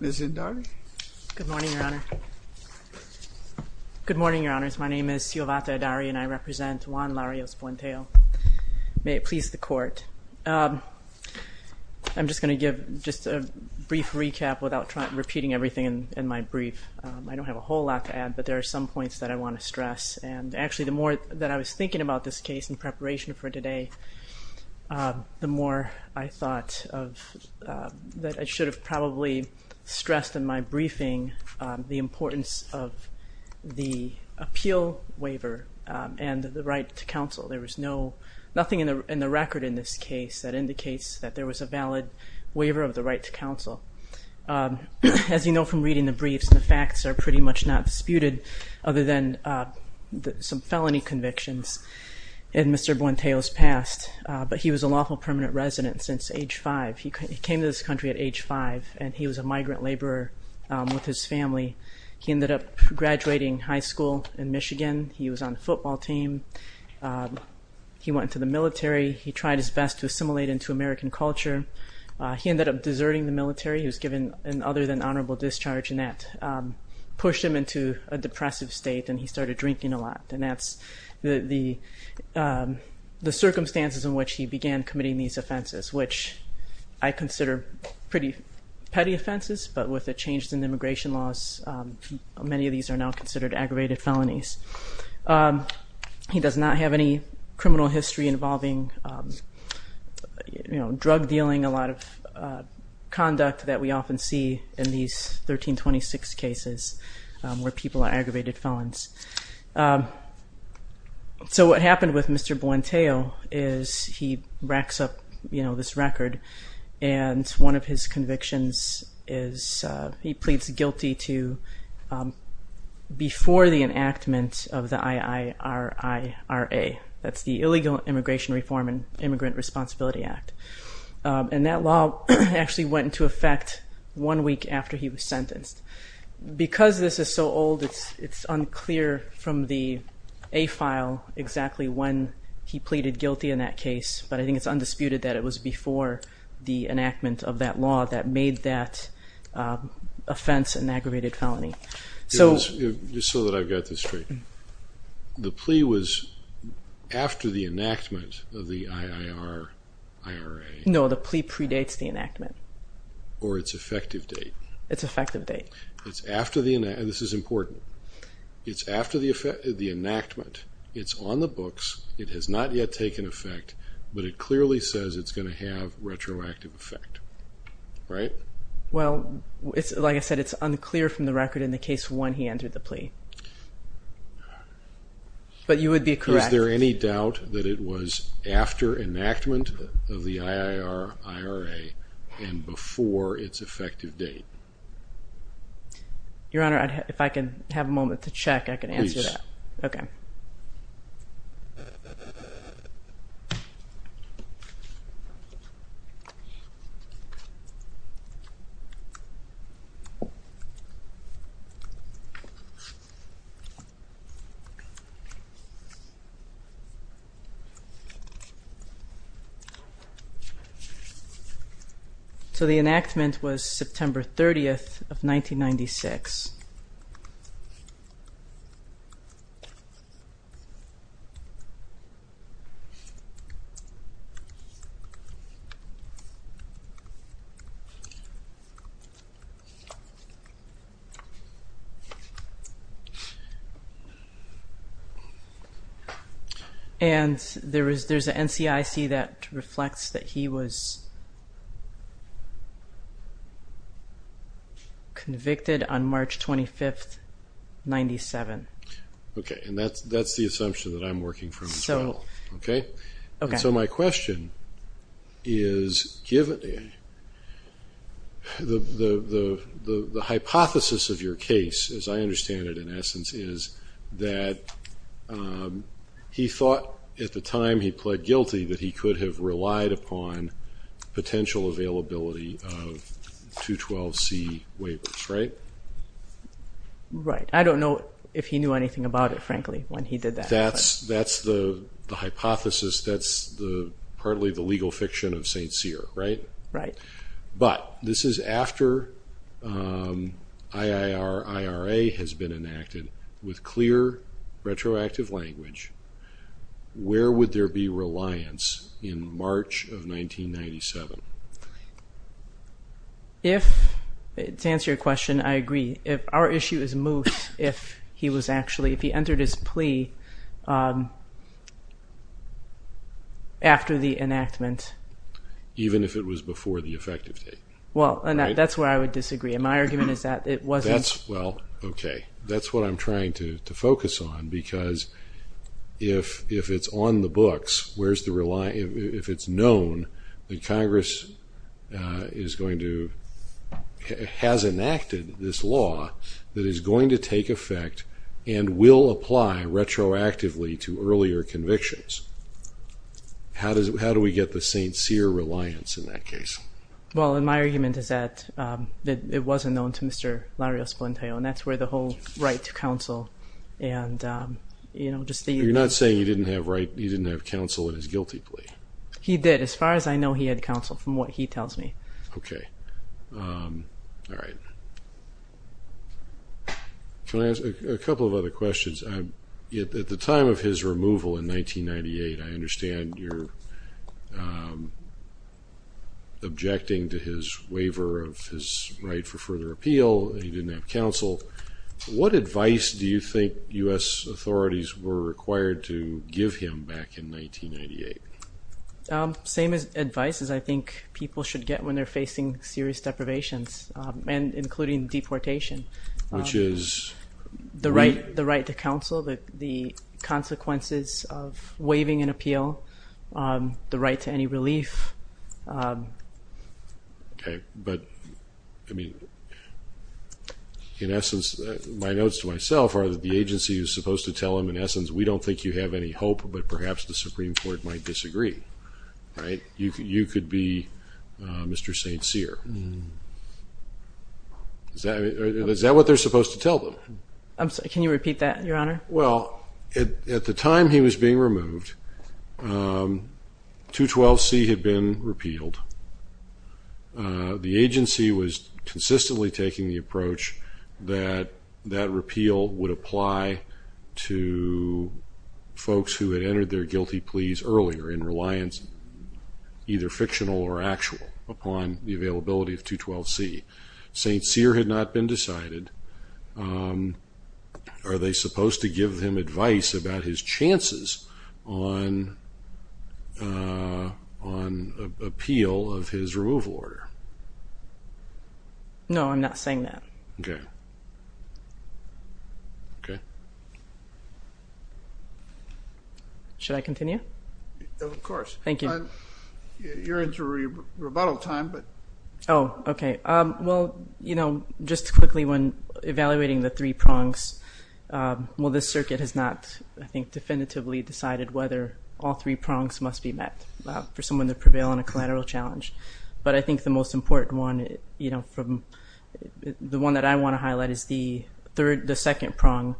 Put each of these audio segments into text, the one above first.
May it please the Court. I'm just going to give just a brief recap without repeating everything in my brief. I don't have a whole lot to add, but there are some points that I want to stress. And actually, the more that I was thinking about this case in preparation for today, the more I thought that I should have probably stressed in my briefing the importance of the appeal waiver and the right to counsel. There was nothing in the record in this case that indicates that there was a valid waiver of the right to counsel. As you know from reading the briefs, the facts are pretty much not disputed other than some Mr. Buenteos' past, but he was a lawful permanent resident since age five. He came to this country at age five and he was a migrant laborer with his family. He ended up graduating high school in Michigan. He was on the football team. He went into the military. He tried his best to assimilate into American culture. He ended up deserting the military. He was given an other than honorable discharge and that pushed him into a depressive state and he started drinking a lot. And that's the circumstances in which he began committing these offenses, which I consider pretty petty offenses, but with the change in immigration laws, many of these are now considered aggravated felonies. He does not have any criminal history involving drug dealing, a lot of conduct that we often see in these 1326 cases where people are aggravated felons. So what happened with Mr. Buenteos is he racks up this record and one of his convictions is he pleads guilty to before the enactment of the IIRIRA. That's the Illegal Immigration Reform and Immigrant Responsibility Act. And that law actually went into effect one week after he was sentenced. Because this is so old, it's unclear from the A-file exactly when he pleaded guilty in that case, but I think it's undisputed that it was before the enactment of that law that made that offense an aggravated felony. Just so that I've got this straight, the plea was after the enactment of the IIRIRA? No, the plea predates the enactment. Or it's effective date? It's effective date. It's after the enactment. This is important. It's after the enactment. It's on the books. It has not yet taken effect, but it clearly says it's going to have retroactive effect, right? Well, like I said, it's unclear from the record in the case one he entered the plea. But you would be correct. Is there any doubt that it was after enactment of the IIRIRA and before its effective date? Your Honor, if I can have a moment to check, I can answer that. Please. Okay. So, the enactment was September 30th of 1996. And there's an NCIC that reflects that he was convicted on March 25th, 1997. Okay. And that's the assumption that I'm working from as well. Okay? Okay. So, my question is, given the hypothesis of your case, as I understand it in essence, is that he thought at the time he pled guilty that he could have relied upon potential availability of 212C waivers, right? Right. I don't know if he knew anything about it, frankly, when he did that. But that's the hypothesis. That's partly the legal fiction of St. Cyr, right? Right. But this is after IIRIRA has been enacted with clear retroactive language. Where would there be reliance in March of 1997? If, to answer your question, I agree. Our issue is moot if he was actually, if he entered his plea after the enactment. Even if it was before the effective date? Well, and that's where I would disagree. And my argument is that it wasn't. Well, okay. That's what I'm trying to focus on. Because if it's on the books, if it's known that Congress is going to, has enacted this law that is going to take effect and will apply retroactively to earlier convictions, how do we get the St. Cyr reliance in that case? Well, and my argument is that it wasn't known to Mr. Larios-Polentaio. And that's where the whole right to counsel and, you know, just the... You're not saying he didn't have counsel in his guilty plea? He did, as far as I know, he had counsel, from what he tells me. Okay. All right. Can I ask a couple of other questions? At the time of his removal in 1998, I understand you're objecting to his waiver of his right for further appeal, that he didn't have counsel. What advice do you think U.S. authorities were required to give him back in 1998? Same advice as I think people should get when they're facing serious deprivations, including deportation. Which is? The right to counsel, the consequences of waiving an appeal, the right to any relief. Okay. But, I mean, in essence, my notes to myself are that the agency is supposed to tell him, in essence, we don't think you have any hope, but perhaps the Supreme Court might disagree, right? You could be Mr. St. Cyr. Is that what they're supposed to tell them? I'm sorry, can you repeat that, Your Honor? Well, at the time he was being removed, 212C had been repealed. The agency was consistently taking the approach that that repeal would apply to folks who had entered their guilty pleas earlier in reliance, either fictional or actual, upon the availability of 212C. St. Cyr had not been decided. Are they supposed to give him advice about his chances on appeal of his removal order? No, I'm not saying that. Okay. Okay. Should I continue? Of course. Thank you. You're into rebuttal time, but... Oh, okay. Well, you know, just quickly, when evaluating the three prongs, well, this circuit has not, I think, definitively decided whether all three prongs must be met for someone to prevail on a collateral challenge. But I think the most important one, you know, from the one that I want to highlight, is the second prong,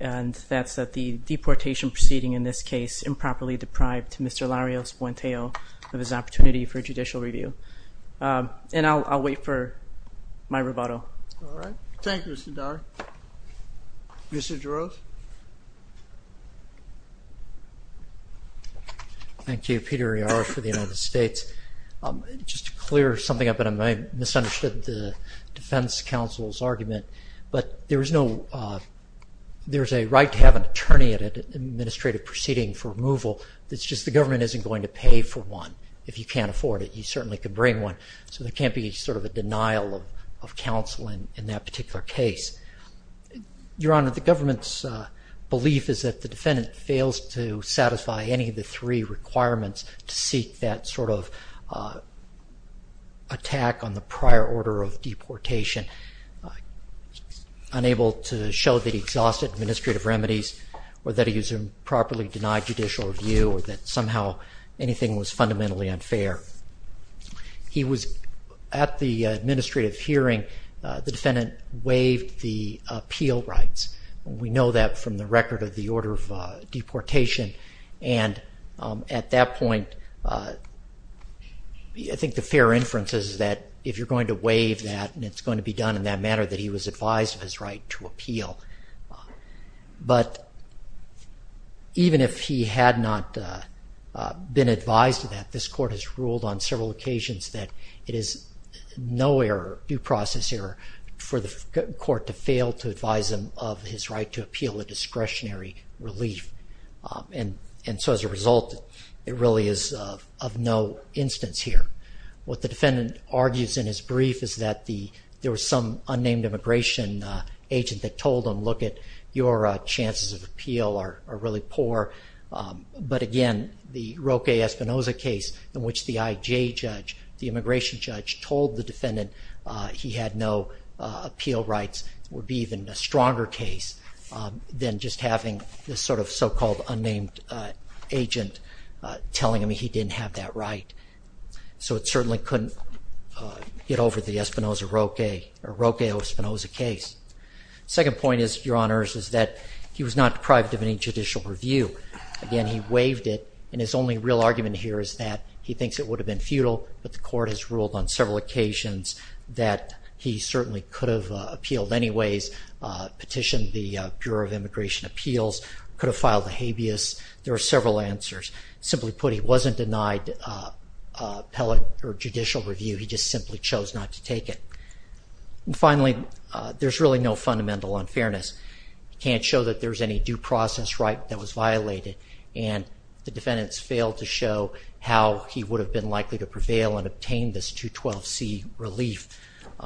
and that's that the deportation proceeding in this case improperly deprived Mr. Larios Buenteo of his opportunity for judicial review. And I'll wait for my rebuttal. All right. Thank you, Mr. Dyer. Mr. Jarosz? Thank you. Peter Yarrow for the United States. Just to clear something up, and I misunderstood the defense counsel's argument, but there's a right to have an attorney at an administrative proceeding for removal. It's just the government isn't going to pay for one if you can't afford it. He certainly could bring one, so there can't be sort of a denial of counsel in that particular case. Your Honor, the government's belief is that the defendant fails to satisfy any of the three requirements to seek that sort of attack on the prior order of deportation, unable to show that he exhausted administrative remedies or that he was improperly denied judicial review or that somehow anything was fundamentally unfair. He was at the administrative hearing. The defendant waived the appeal rights. We know that from the record of the order of deportation. And at that point, I think the fair inference is that if you're going to waive that and it's going to be done in that manner, that he was advised of his right to appeal. But even if he had not been advised of that, this court has ruled on several occasions that it is no error, due process error, for the court to fail to advise him of his right to appeal a discretionary relief. And so as a result, it really is of no instance here. What the defendant argues in his brief is that there was some unnamed immigration agent that told him, look, your chances of appeal are really poor. But again, the Roque Espinoza case in which the IJ judge, the immigration judge, told the defendant he had no appeal rights would be even a stronger case than just having this sort of so-called unnamed agent telling him he didn't have that right. So it certainly couldn't get over the Roque Espinoza case. Second point, Your Honors, is that he was not deprived of any judicial review. Again, he waived it. And his only real argument here is that he thinks it would have been futile, but the court has ruled on several occasions that he certainly could have appealed anyways, petitioned the Bureau of Immigration Appeals, could have filed a habeas. There are several answers. Simply put, he wasn't denied appellate or judicial review. He just simply chose not to take it. And finally, there's really no fundamental unfairness. You can't show that there's any due process right that was violated, and the defendants failed to show how he would have been likely to prevail and obtain this 212C relief.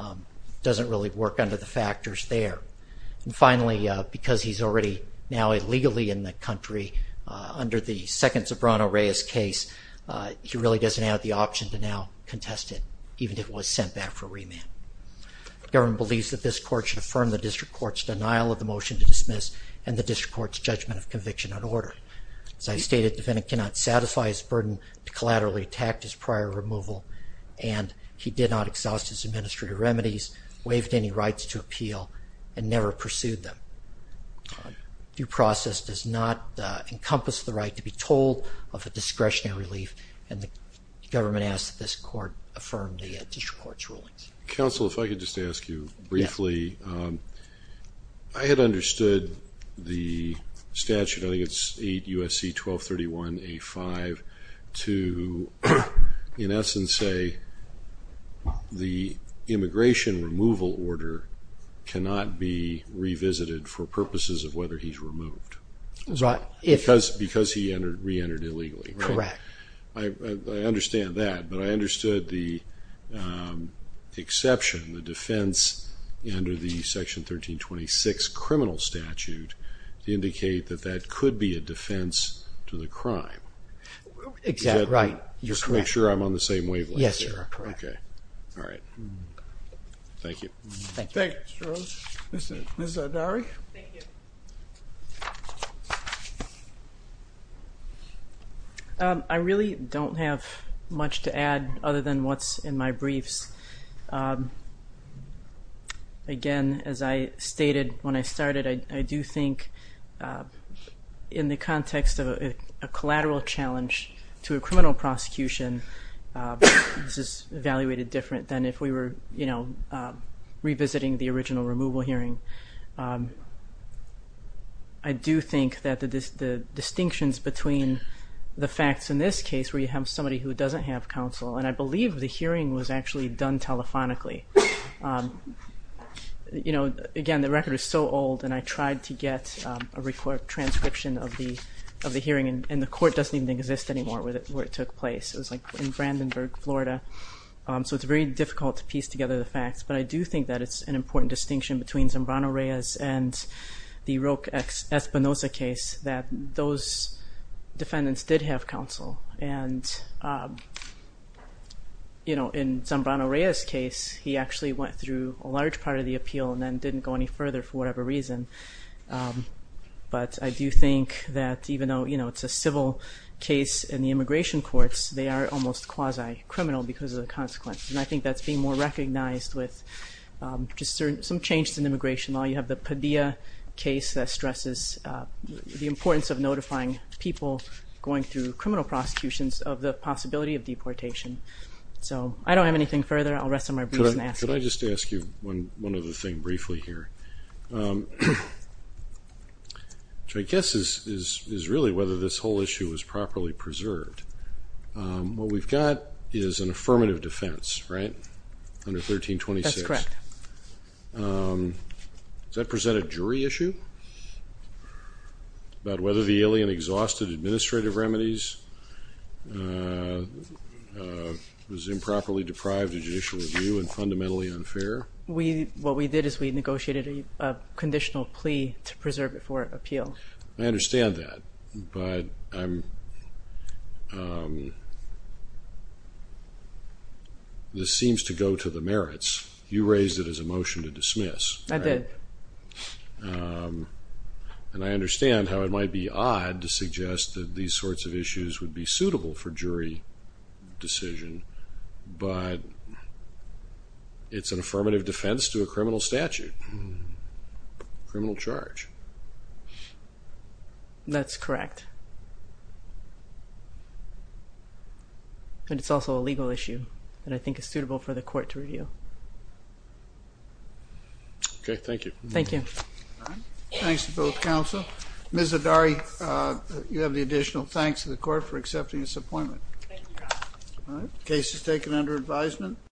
It doesn't really work under the factors there. And finally, because he's already now illegally in the country, under the second Sobrano-Reyes case, he really doesn't have the option to now contest it, even if it was sent back for remand. The government believes that this court should affirm the district court's denial of the motion to dismiss and the district court's judgment of conviction and order. As I stated, the defendant cannot satisfy his burden to collaterally attack his prior removal, and he did not exhaust his administrative remedies, waived any rights to appeal, and never pursued them. Due process does not encompass the right to be told of a discretionary relief, and the government asks that this court affirm the district court's rulings. Counsel, if I could just ask you briefly, I had understood the statute, I think it's 8 U.S.C. 1231A5, to in essence say the immigration removal order cannot be revisited for purposes of whether he's removed. Right. Because he re-entered illegally. Correct. I understand that, but I understood the exception, the defense under the Section 1326 criminal statute to indicate that that could be a defense to the crime. Exactly. Right, you're correct. Just to make sure I'm on the same wavelength. Yes, you are correct. Okay. All right. Thank you. Thank you. Thank you, Mr. Rose. Ms. Zardari? Thank you. I really don't have much to add other than what's in my briefs. Again, as I stated when I started, I do think in the context of a collateral challenge to a criminal prosecution, this is evaluated different than if we were, you know, revisiting the original removal hearing. I do think that the distinctions between the facts in this case, where you have somebody who doesn't have counsel, and I believe the hearing was actually done telephonically. You know, again, the record is so old, and I tried to get a transcription of the hearing, and the court doesn't even exist anymore where it took place. It was like in Brandenburg, Florida. So it's very difficult to piece together the facts. But I do think that it's an important distinction between Zambrano-Reyes and the Roque-Espinosa case that those defendants did have counsel. And, you know, in Zambrano-Reyes' case, he actually went through a large part of the appeal and then didn't go any further for whatever reason. But I do think that even though, you know, it's a civil case in the immigration courts, they are almost quasi-criminal because of the consequences. And I think that's being more recognized with some changes in immigration law. You have the Padilla case that stresses the importance of notifying people going through criminal prosecutions of the possibility of deportation. So I don't have anything further. I'll rest on my boots and ask. Could I just ask you one other thing briefly here? Which I guess is really whether this whole issue is properly preserved. What we've got is an affirmative defense, right, under 1326. That's correct. Does that present a jury issue about whether the alien exhausted administrative remedies, was improperly deprived of judicial review, and fundamentally unfair? What we did is we negotiated a conditional plea to preserve it for appeal. I understand that, but this seems to go to the merits. You raised it as a motion to dismiss. I did. And I understand how it might be odd to suggest that these sorts of issues would be suitable for jury decision, but it's an affirmative defense to a criminal statute, criminal charge. That's correct. And it's also a legal issue that I think is suitable for the court to review. Okay. Thank you. Thank you. All right. Thanks to both counsel. Ms. Adari, you have the additional thanks to the court for accepting this appointment. Thank you, Your Honor. All right. Case is taken under advisement.